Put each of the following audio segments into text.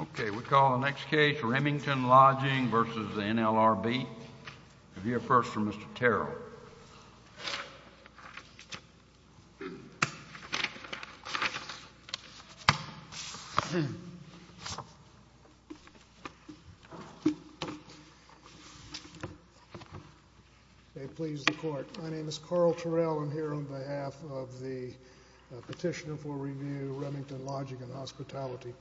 Okay, we'll call the next case Remington Lodging v. NLRB. We'll hear first from Mr. My name is Carl Terrell. I'm here on behalf of the petitioner for review, Remington Lodging and Hospitality.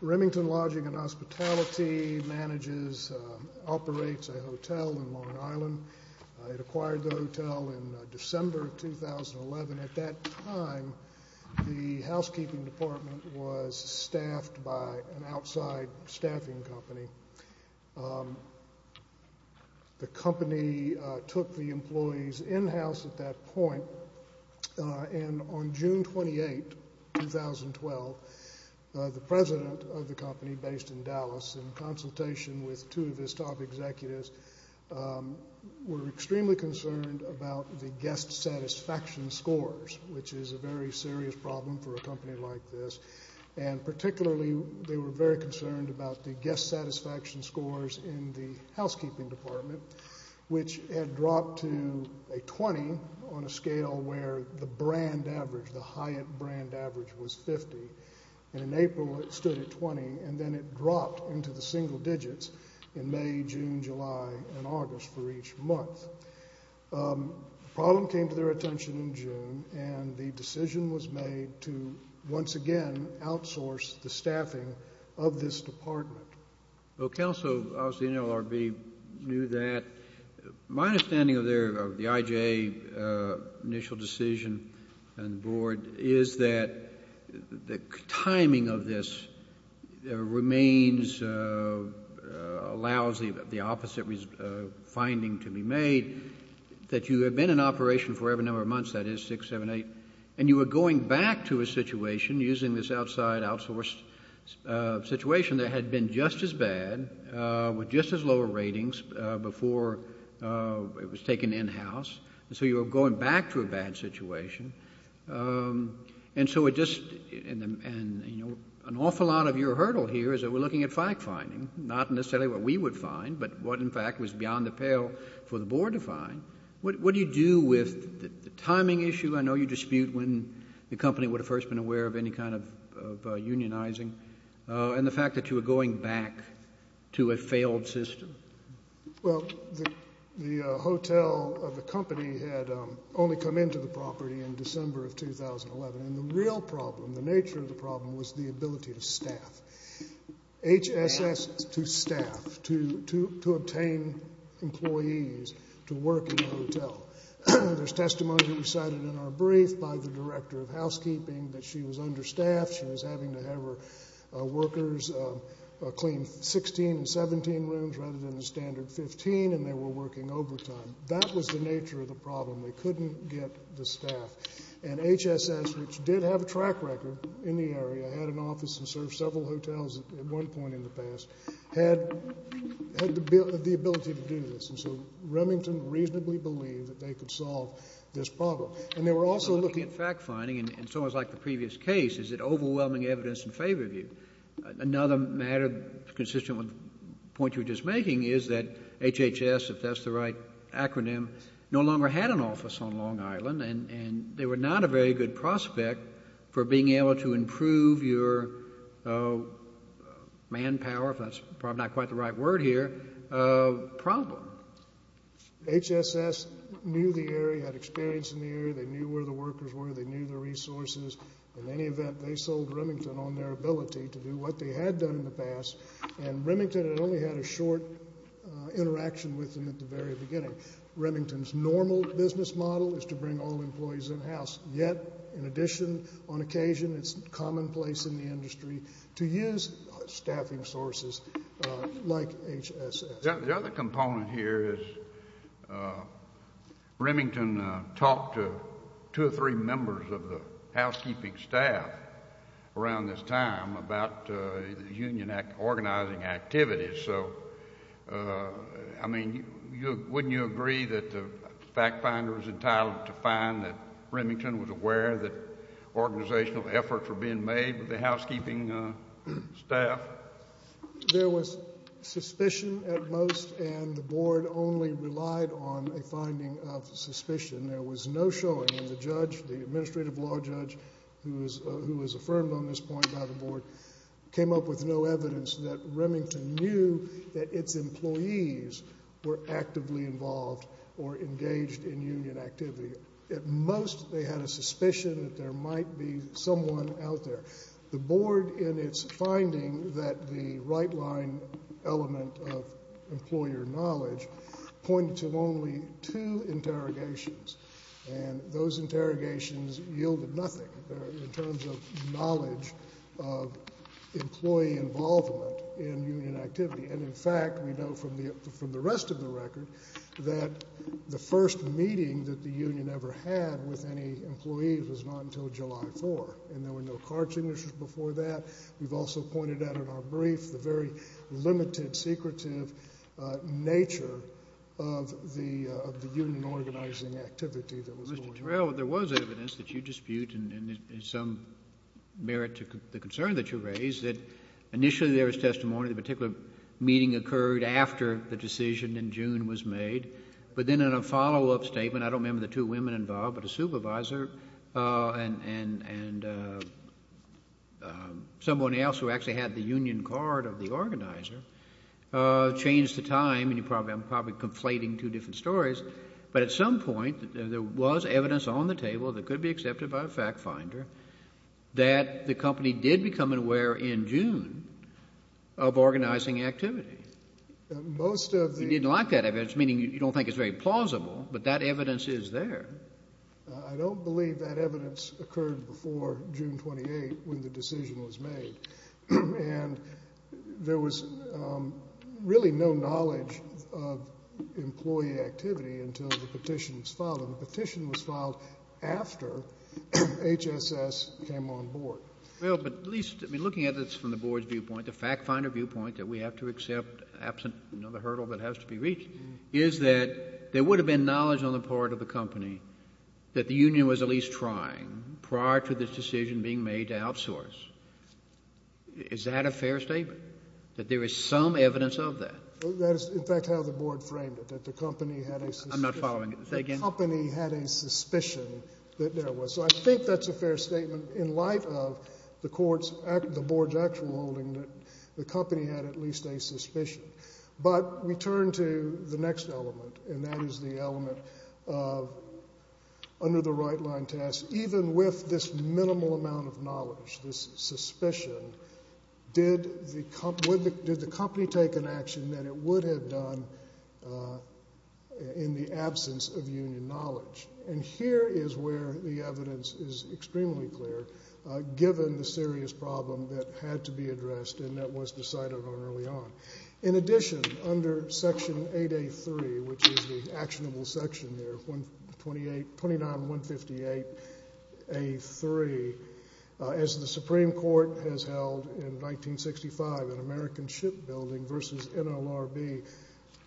Remington Lodging and Hospitality manages, operates a hotel in Long Island. It acquired the hotel in December of 2011. At that time, the housekeeping department was staffed by an outside staffing company. The company took the employees in-house at that point, and on June 28, 2012, the president of the company, based in Dallas, in consultation with two of his top executives, were extremely concerned about the guest satisfaction scores, which is a very serious problem for a company like this. And particularly, they were very concerned about the guest satisfaction scores in the housekeeping department, which had dropped to a 20 on a scale where the brand average, the Hyatt brand average, was 50. And in April, it stood at 20, and then it dropped into the single digits in May, June, July, and August for each month. The problem came to their attention in June, and the decision was made to once again outsource the staffing of this department. Well, counsel, obviously NLRB knew that. My understanding of the IJA initial decision and the board is that the timing of this remains, allows the opposite finding to be made, that you had been in operation for whatever number of months, that is, 6, 7, 8, and you were going back to a situation, using this outside outsourced situation that had been just as bad, with just as low ratings, before it was taken in-house, and so you were going back to a bad situation. And so it just, you know, an awful lot of your hurdle here is that we're looking at fact-finding, not necessarily what we would find, but what in fact was beyond the pale for the board to find. What do you do with the timing issue? I know you dispute when the company would have first been aware of any kind of unionizing, and the fact that you were going back to a failed system. Well, the hotel of the company had only come into the property in December of 2011, and the real problem, the nature of the problem, was the ability to staff, HSS to staff, to obtain employees to work in the hotel. There's testimony recited in our brief by the director of housekeeping that she was understaffed, she was having to have her workers clean 16 and 17 rooms rather than the standard 15, and they were working overtime. That was the nature of the problem. They couldn't get the staff. And HSS, which did have a track record in the area, had an office and served several hotels at one point in the past, had the ability to do this. And so Remington reasonably believed that they could solve this problem. And they were also looking at fact-finding, and it's almost like the previous case, is it overwhelming evidence in favor of you. Another matter consistent with the point you were just making is that HHS, if that's the right acronym, no longer had an office on Long Island, and they were not a very good prospect for being able to improve your manpower, if that's probably not quite the right word here, problem. HSS knew the area, had experience in the area, they knew where the workers were, they knew the resources. In any event, they sold Remington on their ability to do what they had done in the past, and Remington had only had a short interaction with them at the very beginning. Remington's normal business model is to bring all employees in-house. Yet, in addition, on occasion, it's commonplace in the industry to use staffing sources like HSS. The other component here is Remington talked to two or three members of the housekeeping staff around this time about union organizing activities. So, I mean, wouldn't you agree that the fact-finder was entitled to find that Remington was aware that organizational efforts were being made with the housekeeping staff? There was suspicion at most, and the board only relied on a finding of suspicion. There was no showing, and the judge, the administrative law judge, who was affirmed on this point by the board, came up with no evidence that Remington knew that its employees were actively involved or engaged in union activity. At most, they had a suspicion that there might be someone out there. The board, in its finding that the right-line element of employer knowledge pointed to only two interrogations, and those interrogations yielded nothing in terms of knowledge of employee involvement in union activity. And, in fact, we know from the rest of the record that the first meeting that the union ever had with any employees was not until July 4th, and there were no card signatures before that. We've also pointed out in our brief the very limited, secretive nature of the union organizing activity that was going on. Mr. Terrell, there was evidence that you dispute and some merit to the concern that you raise that initially there was testimony, the particular meeting occurred after the decision in June was made, but then in a follow-up statement, I don't remember the two women involved, but a supervisor and someone else who actually had the union card of the organizer changed the time, and I'm probably conflating two different stories, but at some point, there was evidence on the table that could be accepted by a fact finder that the company did become aware in June of organizing activity. Most of the— You didn't like that evidence, meaning you don't think it's very plausible, but that I don't believe that evidence occurred before June 28th when the decision was made, and there was really no knowledge of employee activity until the petition was filed, and the petition was filed after HSS came on board. Well, but at least, I mean, looking at this from the board's viewpoint, the fact finder viewpoint that we have to accept absent another hurdle that has to be reached is that there was evidence that the union was at least trying prior to this decision being made to outsource. Is that a fair statement, that there is some evidence of that? That is, in fact, how the board framed it, that the company had a suspicion. I'm not following. Say again. The company had a suspicion that there was. So I think that's a fair statement in light of the court's—the board's actual holding that the company had at least a suspicion. But we turn to the next element, and that is the element of under the right line test, even with this minimal amount of knowledge, this suspicion, did the company take an action that it would have done in the absence of union knowledge? And here is where the evidence is extremely clear, given the serious problem that had to be addressed and that was decided on early on. In addition, under Section 8A3, which is the actionable section there, 29158A3, as the Supreme Court has held in 1965 in American Shipbuilding versus NLRB,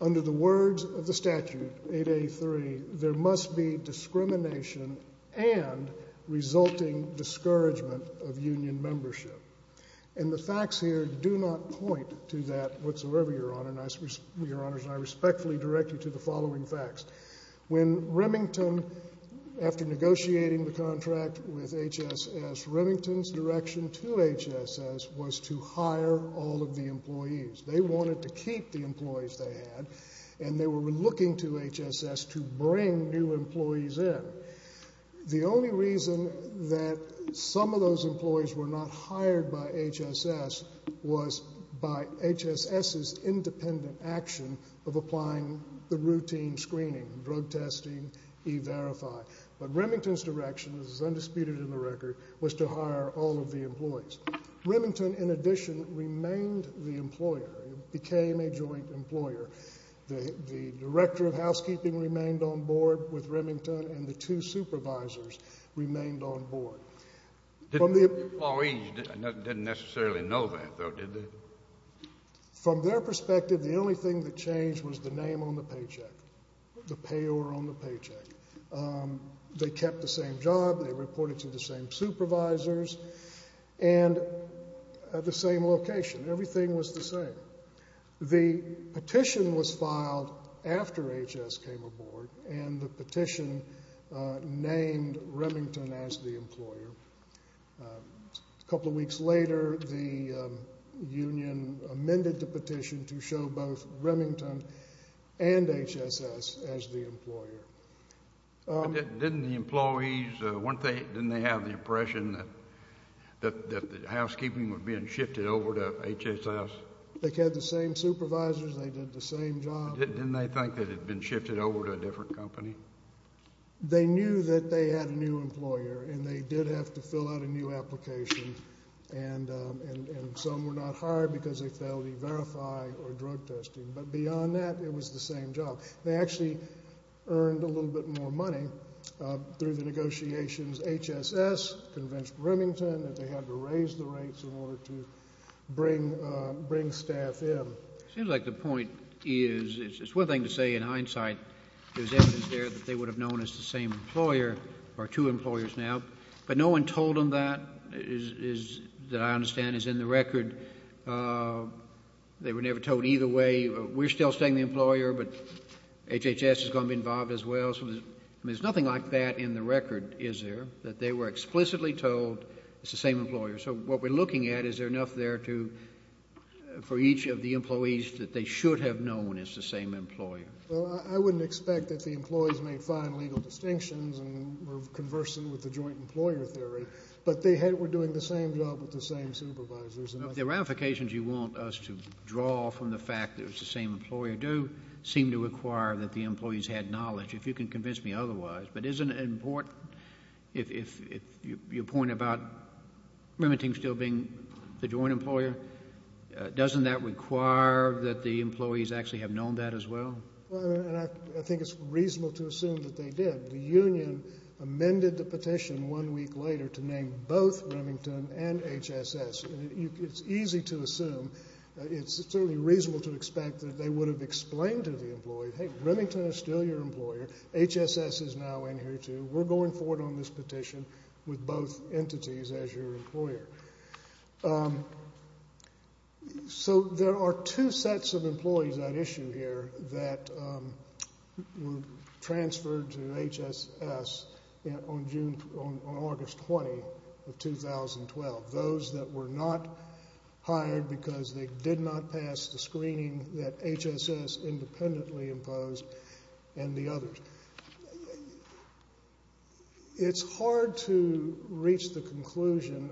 under the words of the statute, 8A3, there must be discrimination and resulting discouragement of union membership. And the facts here do not point to that whatsoever, Your Honor, and I respectfully direct you to the following facts. When Remington, after negotiating the contract with HSS, Remington's direction to HSS was to hire all of the employees. They wanted to keep the employees they had, and they were looking to HSS to bring new employees in. The only reason that some of those employees were not hired by HSS was by HSS's independent action of applying the routine screening, drug testing, E-Verify. But Remington's direction, as is undisputed in the record, was to hire all of the employees. Remington, in addition, remained the employer, became a joint employer. The director of housekeeping remained on board with Remington, and the two supervisors remained on board. The employees didn't necessarily know that, though, did they? From their perspective, the only thing that changed was the name on the paycheck, the payor on the paycheck. They kept the same job. They reported to the same supervisors and at the same location. Everything was the same. However, the petition was filed after HSS came aboard, and the petition named Remington as the employer. A couple of weeks later, the union amended the petition to show both Remington and HSS as the employer. Didn't the employees, didn't they have the impression that the housekeeping was being They kept the same supervisors. They did the same job. Didn't they think that it had been shifted over to a different company? They knew that they had a new employer, and they did have to fill out a new application, and some were not hired because they failed E-Verify or drug testing. But beyond that, it was the same job. They actually earned a little bit more money through the negotiations, HSS convinced Remington that they had to raise the rates in order to bring staff in. It seems like the point is, it's one thing to say in hindsight, there's evidence there that they would have known it's the same employer, or two employers now, but no one told them that, that I understand is in the record. They were never told either way, we're still staying the employer, but HHS is going to be involved as well. There's nothing like that in the record, is there, that they were explicitly told it's the same employer. So what we're looking at, is there enough there for each of the employees that they should have known it's the same employer? Well, I wouldn't expect that the employees made fine legal distinctions and were conversant with the joint employer theory, but they were doing the same job with the same supervisors. The ramifications you want us to draw from the fact that it's the same employer do seem to require that the employees had knowledge. If you can convince me otherwise, but isn't it important, if your point about Remington still being the joint employer, doesn't that require that the employees actually have known that as well? Well, and I think it's reasonable to assume that they did. The union amended the petition one week later to name both Remington and HHS, and it's easy to assume, it's certainly reasonable to expect that they would have explained to the employee, hey, Remington is still your employer, HHS is now in here too, we're going forward on this petition with both entities as your employer. So there are two sets of employees at issue here that were transferred to HHS on August 20 of 2012. Those that were not hired because they did not pass the screening that HHS independently imposed, and the others. It's hard to reach the conclusion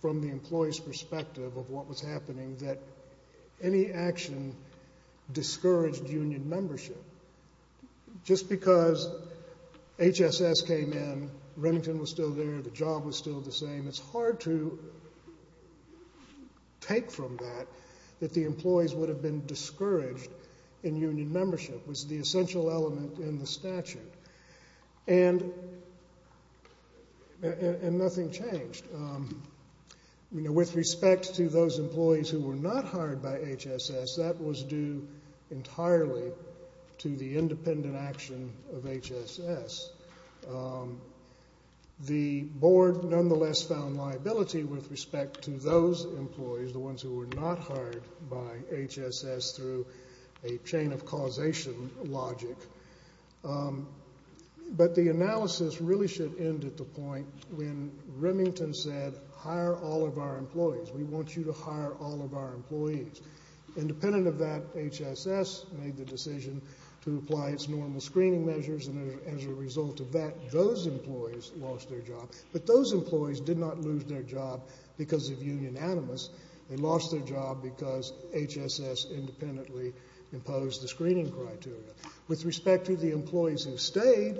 from the employee's perspective of what was happening that any action discouraged union membership. Just because HSS came in, Remington was still there, the job was still the same, it's hard to take from that that the employees would have been discouraged in union membership. It was the essential element in the statute. And nothing changed. With respect to those employees who were not hired by HSS, that was due entirely to the independent action of HSS. The board nonetheless found liability with respect to those employees, the ones who were not hired by HSS through a chain of causation logic. But the analysis really should end at the point when Remington said, hire all of our employees, we want you to hire all of our employees. Independent of that, HSS made the decision to apply its normal screening measures and as a result of that, those employees lost their job. But those employees did not lose their job because of union animus. They lost their job because HSS independently imposed the screening criteria. With respect to the employees who stayed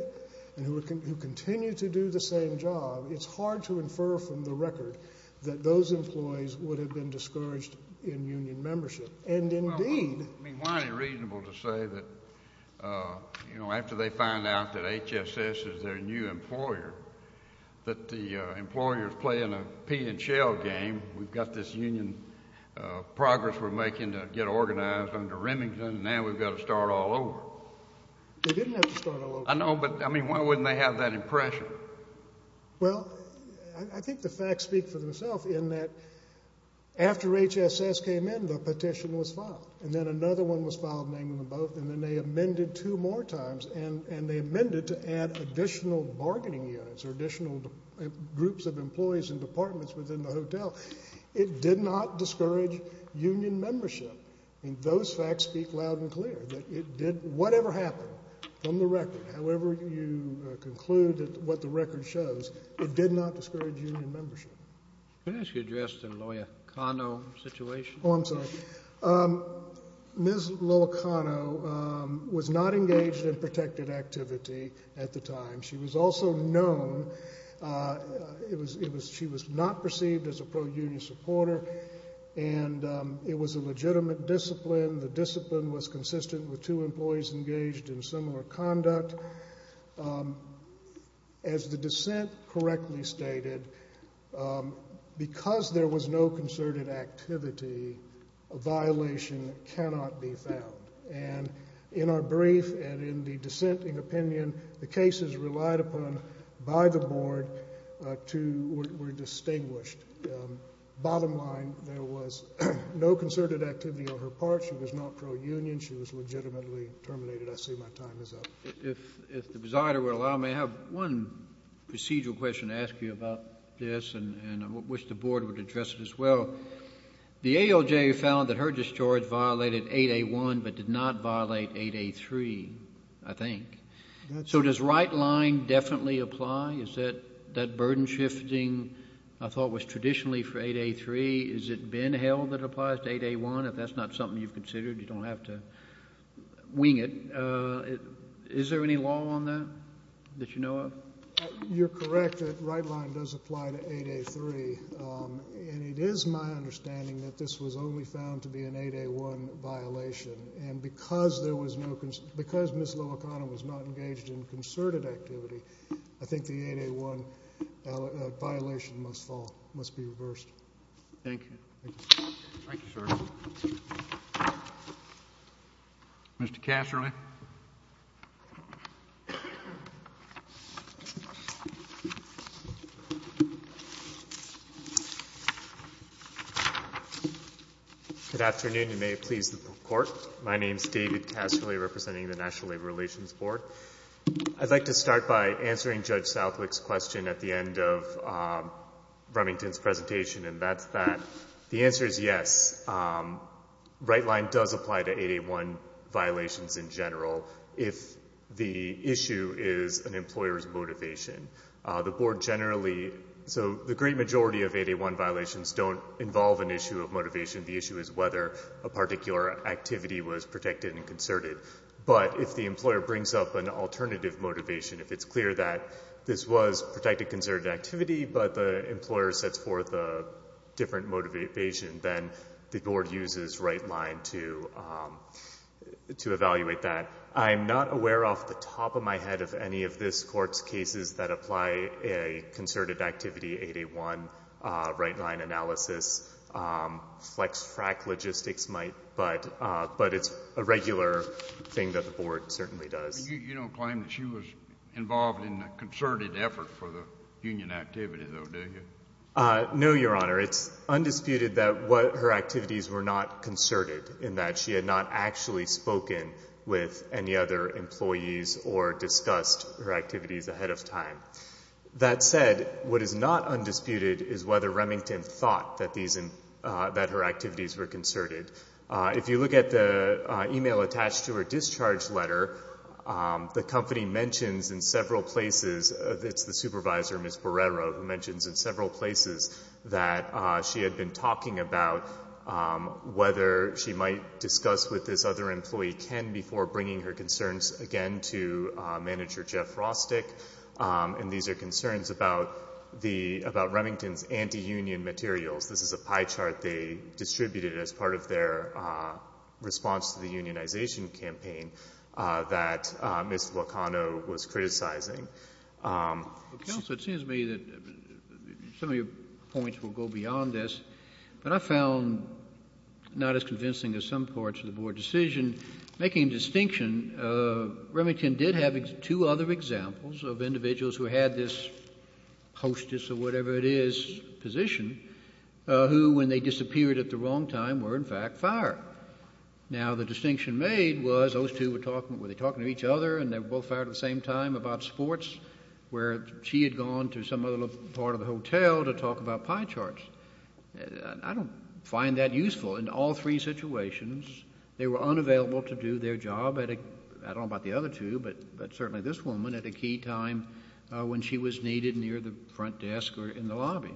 and who continue to do the same job, it's hard to infer from the record that those employees would have been discouraged in union membership. Why is it reasonable to say that after they find out that HSS is their new employer, that the employers play in a pea and shell game. We've got this union progress we're making to get organized under Remington and now we've got to start all over. They didn't have to start all over. I know, but why wouldn't they have that impression? Well, I think the facts speak for themselves in that after HSS came in, the petition was filed and then another one was filed naming them both and then they amended two more times and they amended to add additional bargaining units or additional groups of employees and departments within the hotel. It did not discourage union membership. Those facts speak loud and clear. Whatever happened from the record, however you conclude what the record shows, it did not discourage union membership. Can I ask you to address the Loya Kano situation? Oh, I'm sorry. Ms. Loya Kano was not engaged in protected activity at the time. She was also known. She was not perceived as a pro-union supporter and it was a legitimate discipline. The discipline was consistent with two employees engaged in similar conduct. As the dissent correctly stated, because there was no concerted activity, a violation cannot be found. And in our brief and in the dissenting opinion, the cases relied upon by the board were distinguished. Bottom line, there was no concerted activity on her part. She was not pro-union. She was legitimately terminated. I see my time is up. If the presider would allow me, I have one procedural question to ask you about this and I wish the board would address it as well. The ALJ found that her discharge violated 8A1 but did not violate 8A3, I think. So does right line definitely apply? Is that burden shifting I thought was traditionally for 8A3, is it been held that applies to 8A1? If that's not something you've considered, you don't have to wing it. Is there any law on that that you know of? You're correct. That right line does apply to 8A3. And it is my understanding that this was only found to be an 8A1 violation. And because there was no concern, because Ms. Loacana was not engaged in concerted activity, I think the 8A1 violation must fall, must be reversed. Thank you. Thank you, sir. Mr. Casserly. Good afternoon. You may please report. My name is David Casserly representing the National Labor Relations Board. I'd like to start by answering Judge Southwick's question at the end of Remington's presentation, and that's that. The answer is yes. Right line does apply to 8A1 violations in general if the issue is an employer's motivation. The board generally, so the great majority of 8A1 violations don't involve an issue of motivation. The issue is whether a particular activity was protected and concerted. But if the employer brings up an alternative motivation, if it's clear that this was protected concerted activity, but the employer sets forth a different motivation, then the board uses right line to evaluate that. I'm not aware off the top of my head of any of this Court's cases that apply a concerted activity 8A1 right line analysis, flex frac logistics might, but it's a regular thing that the board certainly does. You don't claim that she was involved in a concerted effort for the union activity, though, do you? No, Your Honor. It's undisputed that her activities were not concerted in that she had not actually spoken with any other employees or discussed her activities ahead of time. That said, what is not undisputed is whether Remington thought that her activities were concerted. If you look at the email attached to her discharge letter, the company mentions in several places, it's the supervisor, Ms. Borrero, who mentions in several places that she had been talking about whether she might discuss with this other employee, Ken, before bringing her concerns again to manager Jeff Rostick. And these are concerns about Remington's anti-union materials. This is a pie chart they distributed as part of their response to the unionization campaign that Ms. Locano was criticizing. Counsel, it seems to me that some of your points will go beyond this, but I found not as convincing as some parts of the board decision. Making a distinction, Remington did have two other examples of individuals who had this hostess or whatever it is position who, when they disappeared at the wrong time, were in fact fired. Now, the distinction made was those two were talking to each other and they were both fired at the same time about sports, where she had gone to some other part of the hotel to talk about pie charts. I don't find that useful. In all three situations, they were unavailable to do their job at a, I don't know about the other two, but certainly this woman at a key time when she was needed near the front desk or in the lobby.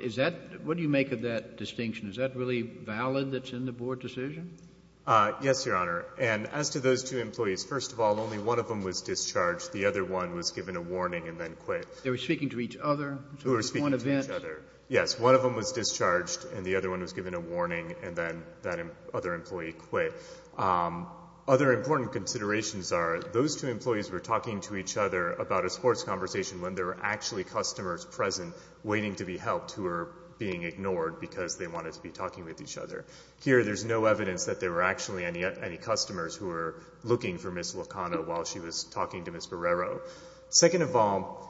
Is that, what do you make of that distinction? Is that really valid that's in the board decision? Yes, Your Honor. And as to those two employees, first of all, only one of them was discharged. The other one was given a warning and then quit. They were speaking to each other? They were speaking to each other. Yes, one of them was discharged and the other one was given a warning and then that other employee quit. Other important considerations are those two employees were talking to each other about a sports conversation when there were actually customers present waiting to be helped who were being ignored because they wanted to be talking with each other. Here, there's no evidence that there were actually any customers who were looking for Ms. Locano while she was talking to Ms. Barrero. Second of all,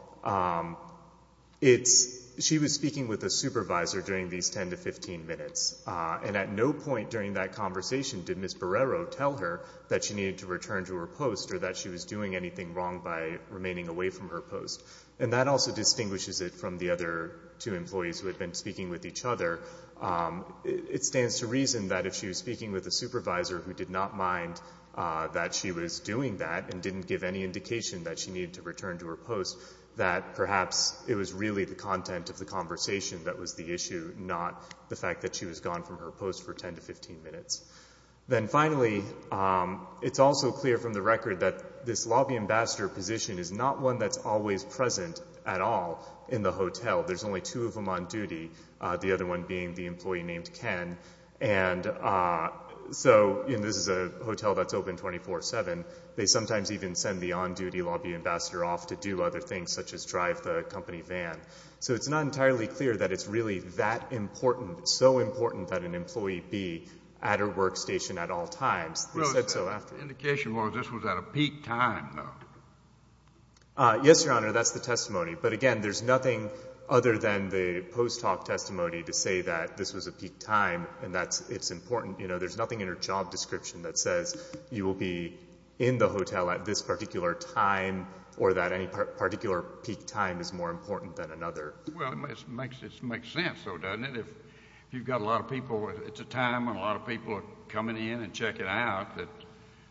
she was speaking with a supervisor during these 10 to 15 minutes and at no point during that conversation did Ms. Barrero tell her that she needed to return to her post or that she was doing anything wrong by remaining away from her post. And that also distinguishes it from the other two employees who had been speaking with each other. It stands to reason that if she was speaking with a supervisor who did not mind that she was doing that and didn't give any indication that she needed to return to her post, that perhaps it was really the content of the conversation that was the issue, not the fact that she was gone from her post for 10 to 15 minutes. Then finally, it's also clear from the record that this lobby ambassador position is not one that's always present at all in the hotel. There's only two of them on duty, the other one being the employee named Ken. And so this is a hotel that's open 24-7. They sometimes even send the on-duty lobby ambassador off to do other things such as drive the company van. So it's not entirely clear that it's really that important, so important that an employee be at her workstation at all times. They said so afterwards. The indication was this was at a peak time, though. Yes, Your Honor, that's the testimony. But again, there's nothing other than the post-talk testimony to say that this was a peak time and that it's important. There's nothing in her job description that says you will be in the hotel at this particular time or that any particular peak time is more important than another. Well, it makes sense, though, doesn't it? If you've got a lot of people, it's a time when a lot of people are coming in and checking out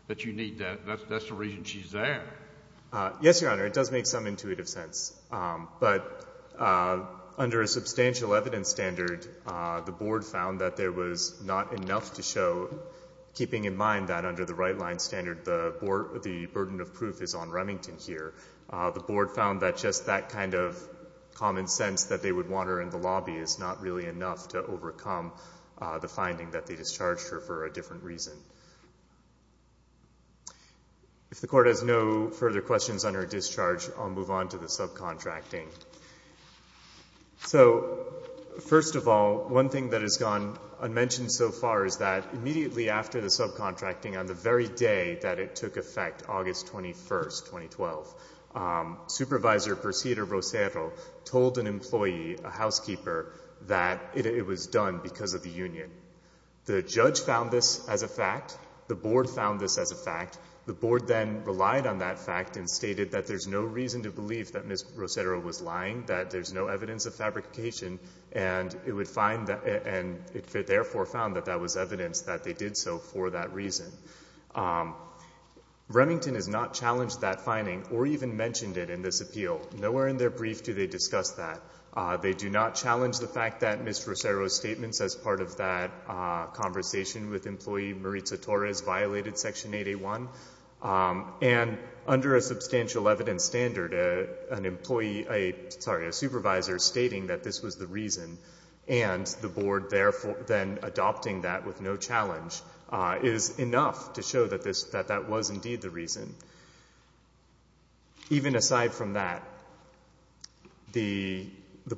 that you need that. That's the reason she's there. Yes, Your Honor, it does make some intuitive sense. But under a substantial evidence standard, the Board found that there was not enough to show, keeping in mind that under the right-line standard the burden of proof is on Remington here, the Board found that just that kind of common sense that they would want her in the lobby is not really enough to overcome the finding that they discharged her for a different reason. If the Court has no further questions on her discharge, I'll move on to the subcontracting. So, first of all, one thing that has gone unmentioned so far is that immediately after the subcontracting, on the very day that it took effect, August 21, 2012, Supervisor Perceda-Rosero told an employee, a housekeeper, that it was done because of the union. The judge found this as a fact. The Board found this as a fact. The Board then relied on that fact and stated that there's no reason to believe that Ms. Rosero was lying, that there's no evidence of fabrication, and it therefore found that that was evidence that they did so for that reason. Remington has not challenged that finding or even mentioned it in this appeal. Nowhere in their brief do they discuss that. They do not challenge the fact that Ms. Rosero's statements as part of that conversation with employee Maritza Torres violated Section 8A1. And under a substantial evidence standard, an employee, sorry, a supervisor stating that this was the reason and the Board therefore then adopting that with no challenge is enough to show that that was indeed the reason. Even aside from that, the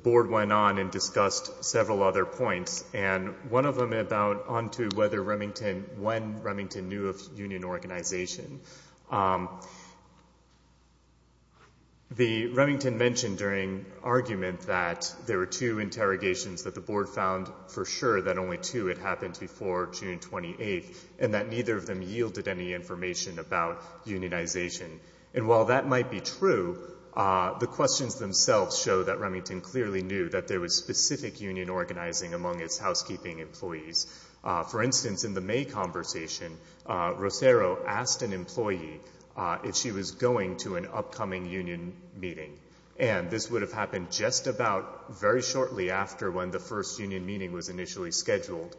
Board went on and discussed several other points, and one of them about on to whether Remington, when Remington knew of union organization. The Remington mentioned during argument that there were two interrogations that the Board found for sure that only two had happened before June 28th and that neither of them yielded any information about unionization. And while that might be true, the questions themselves show that Remington clearly knew that there was specific union organizing among its housekeeping employees. For instance, in the May conversation, Rosero asked an employee if she was going to an upcoming union meeting, and this would have happened just about very shortly after when the first union meeting was initially scheduled.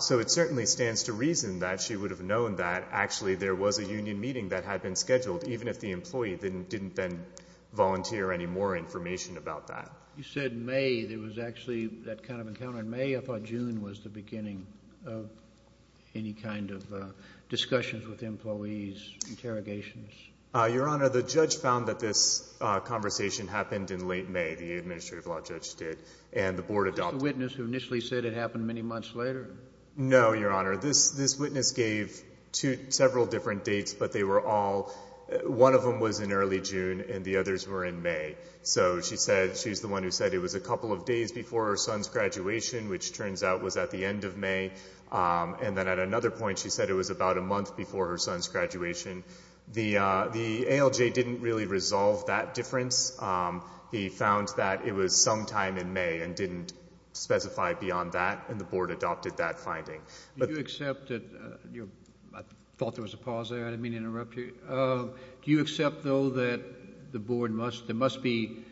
So it certainly stands to reason that she would have known that actually there was a union meeting that had been scheduled, even if the employee didn't then volunteer any more information about that. You said May. There was actually that kind of encounter in May. I thought June was the beginning of any kind of discussions with employees, interrogations. Your Honor, the judge found that this conversation happened in late May, the administrative law judge did, and the Board adopted it. The witness who initially said it happened many months later? No, Your Honor. This witness gave several different dates, but they were all, one of them was in early June and the others were in May. So she said, she's the one who said it was a couple of days before her son's graduation, which turns out was at the end of May. And then at another point, she said it was about a month before her son's graduation. The ALJ didn't really resolve that difference. He found that it was sometime in May and didn't specify beyond that, and the Board adopted that finding. Do you accept that—I thought there was a pause there. I didn't mean to interrupt you. Do you accept, though, that the Board must—there must be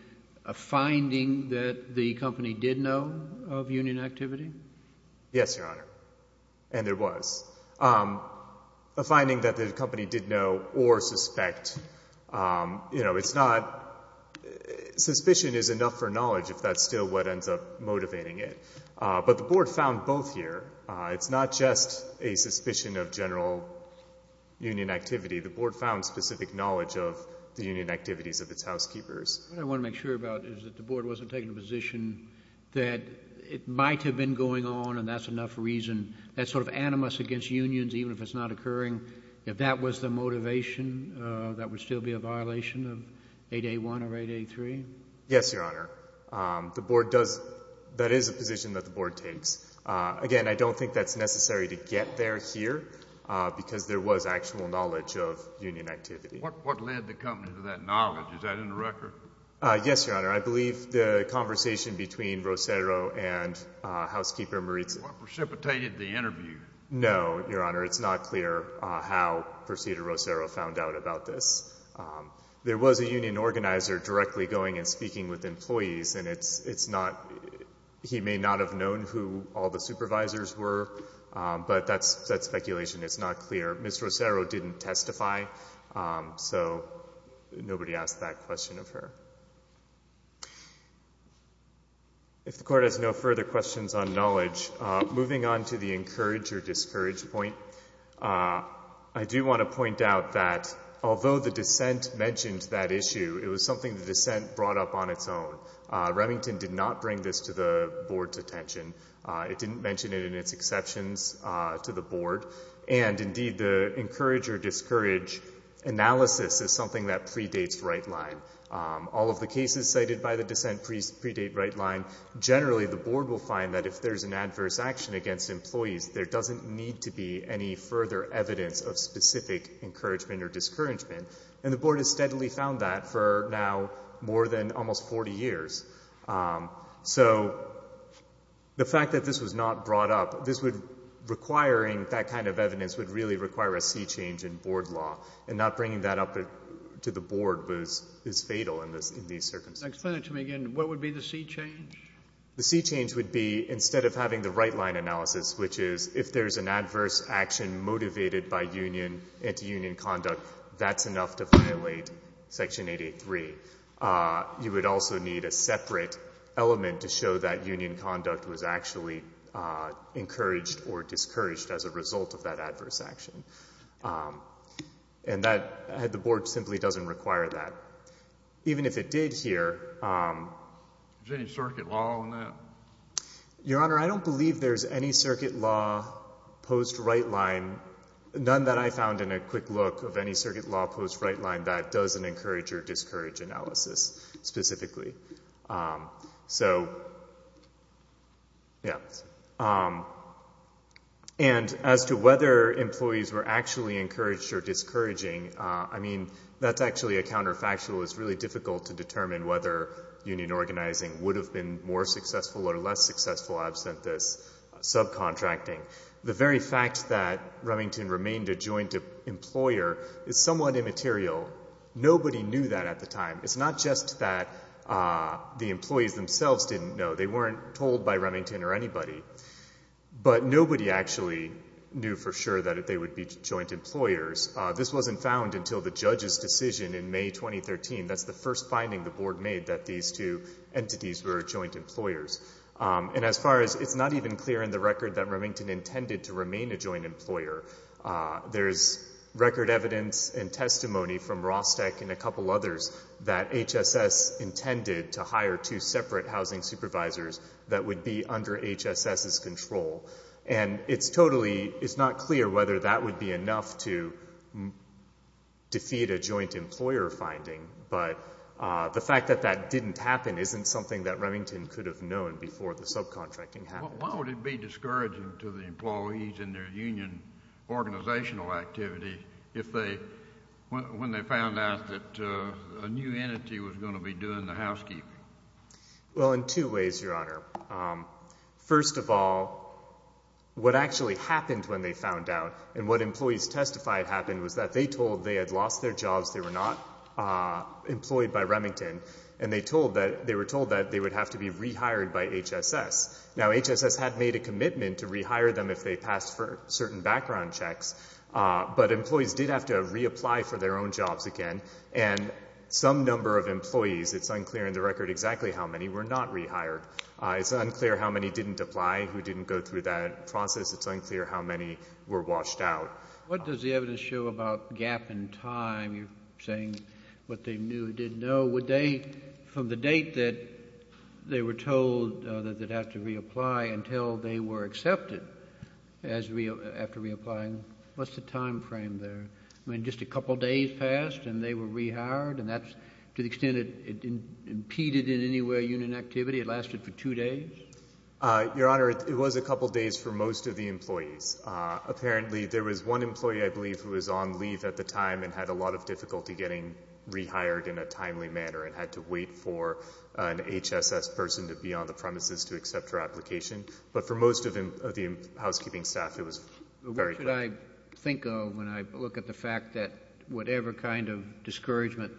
a finding that the company did know of union activity? Yes, Your Honor, and there was. A finding that the company did know or suspect, you know, it's not—suspicion is enough for knowledge if that's still what ends up motivating it. But the Board found both here. It's not just a suspicion of general union activity. The Board found specific knowledge of the union activities of its housekeepers. What I want to make sure about is that the Board wasn't taking a position that it might have been going on, and that's enough reason. That's sort of animus against unions, even if it's not occurring. If that was the motivation, that would still be a violation of 8A1 or 8A3? Yes, Your Honor. The Board does—that is a position that the Board takes. Again, I don't think that's necessary to get there here because there was actual knowledge of union activity. What led the company to that knowledge? Is that in the record? Yes, Your Honor. I believe the conversation between Rosero and Housekeeper Moritza. That's what precipitated the interview. No, Your Honor. It's not clear how Proceeder Rosero found out about this. There was a union organizer directly going and speaking with employees, and it's not—he may not have known who all the supervisors were, but that's speculation. It's not clear. Ms. Rosero didn't testify, so nobody asked that question of her. If the Court has no further questions on knowledge, moving on to the encourage or discourage point, I do want to point out that although the dissent mentioned that issue, it was something the dissent brought up on its own. Remington did not bring this to the Board's attention. It didn't mention it in its exceptions to the Board, and, indeed, the encourage or discourage analysis is something that predates right line. All of the cases cited by the dissent predate right line. Generally, the Board will find that if there's an adverse action against employees, there doesn't need to be any further evidence of specific encouragement or discouragement, and the Board has steadily found that for now more than almost 40 years. So the fact that this was not brought up, this would, requiring that kind of evidence, would really require a C change in Board law, and not bringing that up to the Board is fatal in these circumstances. Sotomayor, explain it to me again. What would be the C change? The C change would be instead of having the right line analysis, which is if there's an adverse action motivated by union, anti-union conduct, that's enough to violate Section 883. You would also need a separate element to show that union conduct was actually encouraged or discouraged as a result of that adverse action. And that, the Board simply doesn't require that. Even if it did here. Is there any circuit law on that? Your Honor, I don't believe there's any circuit law post right line, none that I found in a quick look of any circuit law post right line that doesn't encourage or discourage analysis specifically. So, yeah. And as to whether employees were actually encouraged or discouraging, I mean, that's actually a counterfactual. It's really difficult to determine whether union organizing would have been more successful or less successful absent this subcontracting. The very fact that Remington remained a joint employer is somewhat immaterial. Nobody knew that at the time. It's not just that the employees themselves didn't know. They weren't told by Remington or anybody. But nobody actually knew for sure that they would be joint employers. This wasn't found until the judge's decision in May 2013. That's the first finding the Board made that these two entities were joint employers. And as far as it's not even clear in the record that Remington intended to remain a joint employer, there's record evidence and testimony from Rostec and a couple others that HSS intended to hire two separate housing supervisors that would be under HSS's control. And it's totally not clear whether that would be enough to defeat a joint employer finding. But the fact that that didn't happen isn't something that Remington could have known before the subcontracting happened. Why would it be discouraging to the employees in their union organizational activity when they found out that a new entity was going to be doing the housekeeping? Well, in two ways, Your Honor. First of all, what actually happened when they found out and what employees testified happened was that they told they had lost their jobs, they were not employed by Remington, and they were told that they would have to be rehired by HSS. Now, HSS had made a commitment to rehire them if they passed certain background checks, but employees did have to reapply for their own jobs again. And some number of employees, it's unclear in the record exactly how many, were not rehired. It's unclear how many didn't apply, who didn't go through that process. It's unclear how many were washed out. What does the evidence show about gap in time? You're saying what they knew and didn't know. Would they, from the date that they were told that they'd have to reapply until they were accepted after reapplying, what's the time frame there? I mean, just a couple days passed and they were rehired, and that's to the extent it impeded in any way union activity, it lasted for two days? Your Honor, it was a couple days for most of the employees. Apparently, there was one employee, I believe, who was on leave at the time and had a lot of difficulty getting rehired in a timely manner and had to wait for an HSS person to be on the premises to accept her application. But for most of the housekeeping staff, it was very quick. What should I think of when I look at the fact that whatever kind of discouragement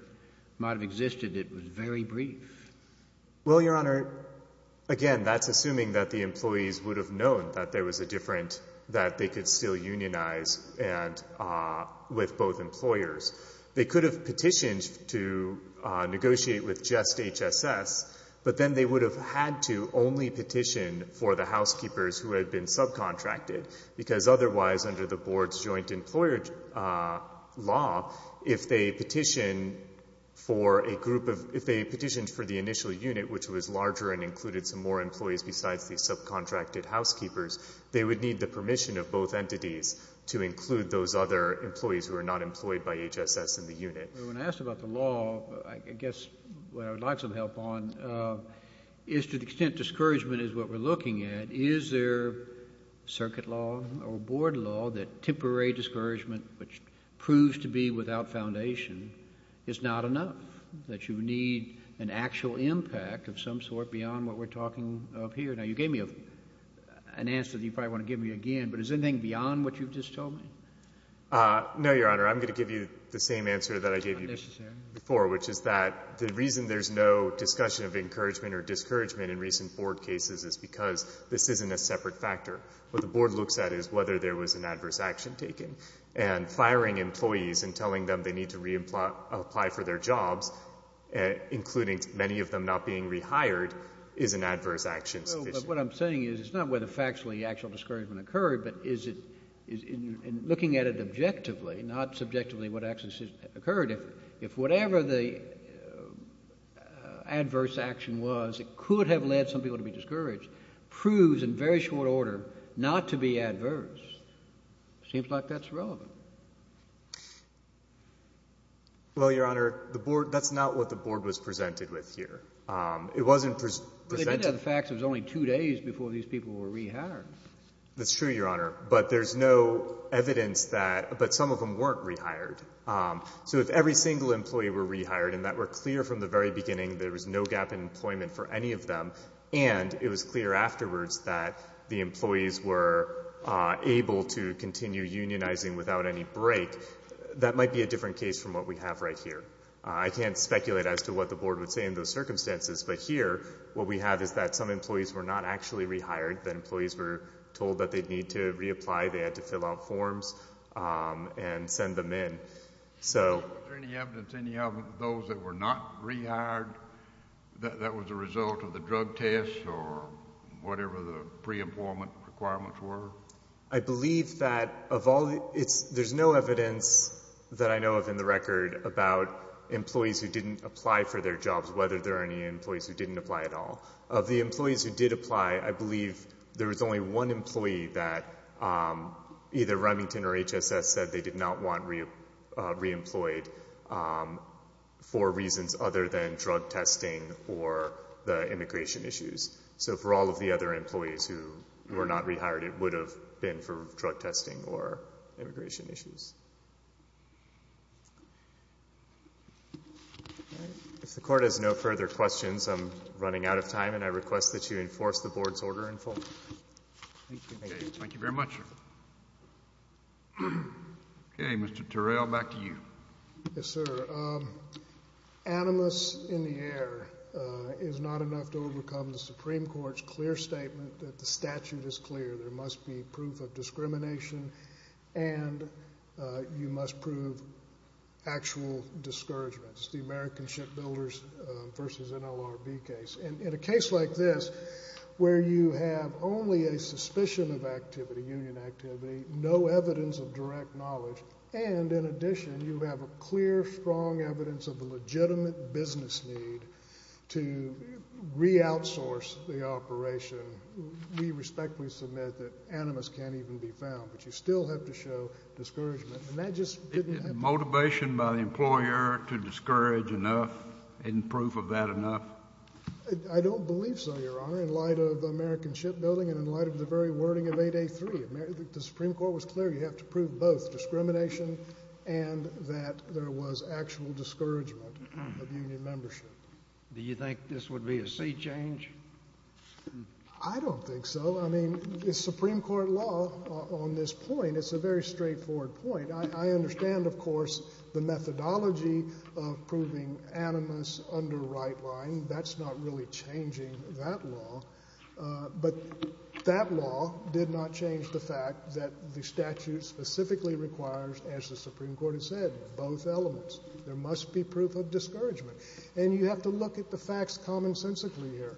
might have existed, it was very brief? Well, Your Honor, again, that's assuming that the employees would have known that there was a difference, that they could still unionize with both employers. They could have petitioned to negotiate with just HSS, but then they would have had to only petition for the housekeepers who had been subcontracted, because otherwise under the board's joint employer law, if they petitioned for the initial unit, which was larger and included some more employees besides the subcontracted housekeepers, they would need the permission of both entities to include those other employees who were not employed by HSS in the unit. When I asked about the law, I guess what I would like some help on is to the extent discouragement is what we're looking at, is there circuit law or board law that temporary discouragement, which proves to be without foundation, is not enough, that you need an actual impact of some sort beyond what we're talking of here? Now, you gave me an answer that you probably want to give me again, but is there anything beyond what you've just told me? No, Your Honor. I'm going to give you the same answer that I gave you before, which is that the reason there's no discussion of encouragement or discouragement in recent board cases is because this isn't a separate factor. What the board looks at is whether there was an adverse action taken, and firing employees and telling them they need to reapply for their jobs, including many of them not being rehired, is an adverse action sufficient? But what I'm saying is it's not whether factually actual discouragement occurred, but is it, in looking at it objectively, not subjectively what actions occurred, if whatever the adverse action was that could have led some people to be discouraged proves, in very short order, not to be adverse? It seems like that's relevant. Well, Your Honor, the board, that's not what the board was presented with here. It wasn't presented. Well, they did have the facts. It was only two days before these people were rehired. That's true, Your Honor, but there's no evidence that, but some of them weren't rehired. So if every single employee were rehired and that were clear from the very beginning, there was no gap in employment for any of them, and it was clear afterwards that the employees were able to continue unionizing without any break, that might be a different case from what we have right here. I can't speculate as to what the board would say in those circumstances, but here what we have is that some employees were not actually rehired. The employees were told that they'd need to reapply. They had to fill out forms and send them in. Was there any evidence, any of those that were not rehired, that that was a result of the drug test or whatever the pre-employment requirements were? I believe that of all, there's no evidence that I know of in the record about employees who didn't apply for their jobs, whether there are any employees who didn't apply at all. Of the employees who did apply, I believe there was only one employee that either Remington or HSS said they did not want reemployed for reasons other than drug testing or the immigration issues. So for all of the other employees who were not rehired, it would have been for drug testing or immigration issues. If the court has no further questions, I'm running out of time, and I request that you enforce the board's order in full. Thank you very much. Okay, Mr. Terrell, back to you. Yes, sir. Animus in the air is not enough to overcome the Supreme Court's clear statement that the statute is clear. There must be proof of discrimination, and you must prove actual discouragement. It's the American Shipbuilders v. NLRB case. In a case like this where you have only a suspicion of activity, union activity, no evidence of direct knowledge, and in addition you have a clear, strong evidence of a legitimate business need to re-outsource the operation, we respectfully submit that animus can't even be found. But you still have to show discouragement, and that just didn't happen. Motivation by the employer to discourage enough, isn't proof of that enough? I don't believe so, Your Honor, in light of American Shipbuilding and in light of the very wording of 8A3. The Supreme Court was clear you have to prove both discrimination and that there was actual discouragement of union membership. Do you think this would be a sea change? I don't think so. I mean, the Supreme Court law on this point, it's a very straightforward point. I understand, of course, the methodology of proving animus under right line. That's not really changing that law. But that law did not change the fact that the statute specifically requires, as the Supreme Court has said, both elements. There must be proof of discouragement, and you have to look at the facts commonsensically here.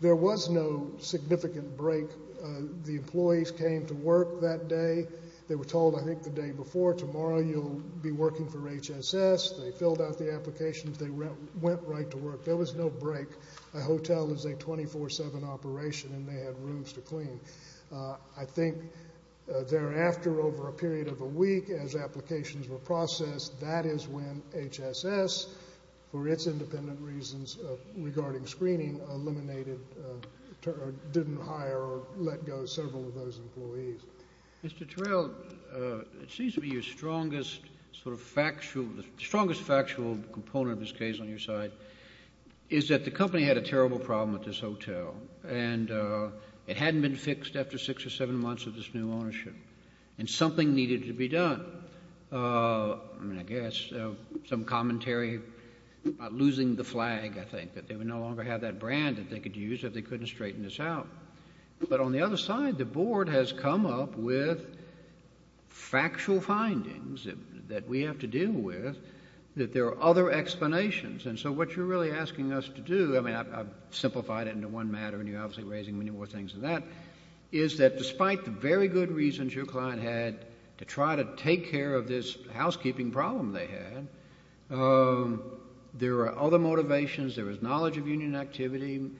There was no significant break. The employees came to work that day. They were told, I think, the day before, tomorrow you'll be working for HSS. They filled out the applications. They went right to work. There was no break. A hotel is a 24-7 operation, and they had rooms to clean. I think thereafter, over a period of a week, as applications were processed, that is when HSS, for its independent reasons regarding screening, eliminated or didn't hire or let go several of those employees. Mr. Terrell, it seems to me your strongest sort of factual, the strongest factual component of this case on your side, is that the company had a terrible problem with this hotel, and it hadn't been fixed after six or seven months of this new ownership, and something needed to be done. I mean, I guess some commentary about losing the flag, I think, that they would no longer have that brand that they could use if they couldn't straighten this out. But on the other side, the board has come up with factual findings that we have to deal with, that there are other explanations. And so what you're really asking us to do—I mean, I've simplified it into one matter, and you're obviously raising many more things than that— to take care of this housekeeping problem they had. There are other motivations. There was knowledge of union activity,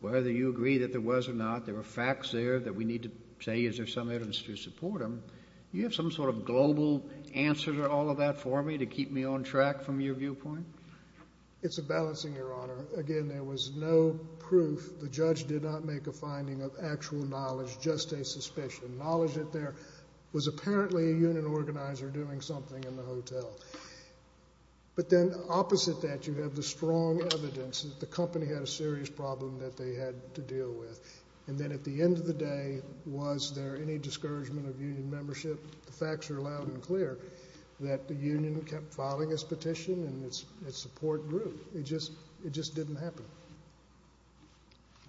whether you agree that there was or not. There were facts there that we need to say is there some evidence to support them. Do you have some sort of global answer to all of that for me to keep me on track from your viewpoint? It's a balancing, Your Honor. Again, there was no proof. The judge did not make a finding of actual knowledge, just a suspicion. The knowledge that there was apparently a union organizer doing something in the hotel. But then opposite that, you have the strong evidence that the company had a serious problem that they had to deal with. And then at the end of the day, was there any discouragement of union membership? The facts are loud and clear that the union kept filing its petition and its support group. It just didn't happen.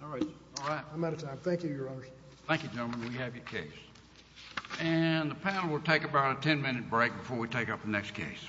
All right. I'm out of time. Thank you, Your Honor. Thank you, gentlemen. We have your case. And the panel will take about a ten-minute break before we take up the next case.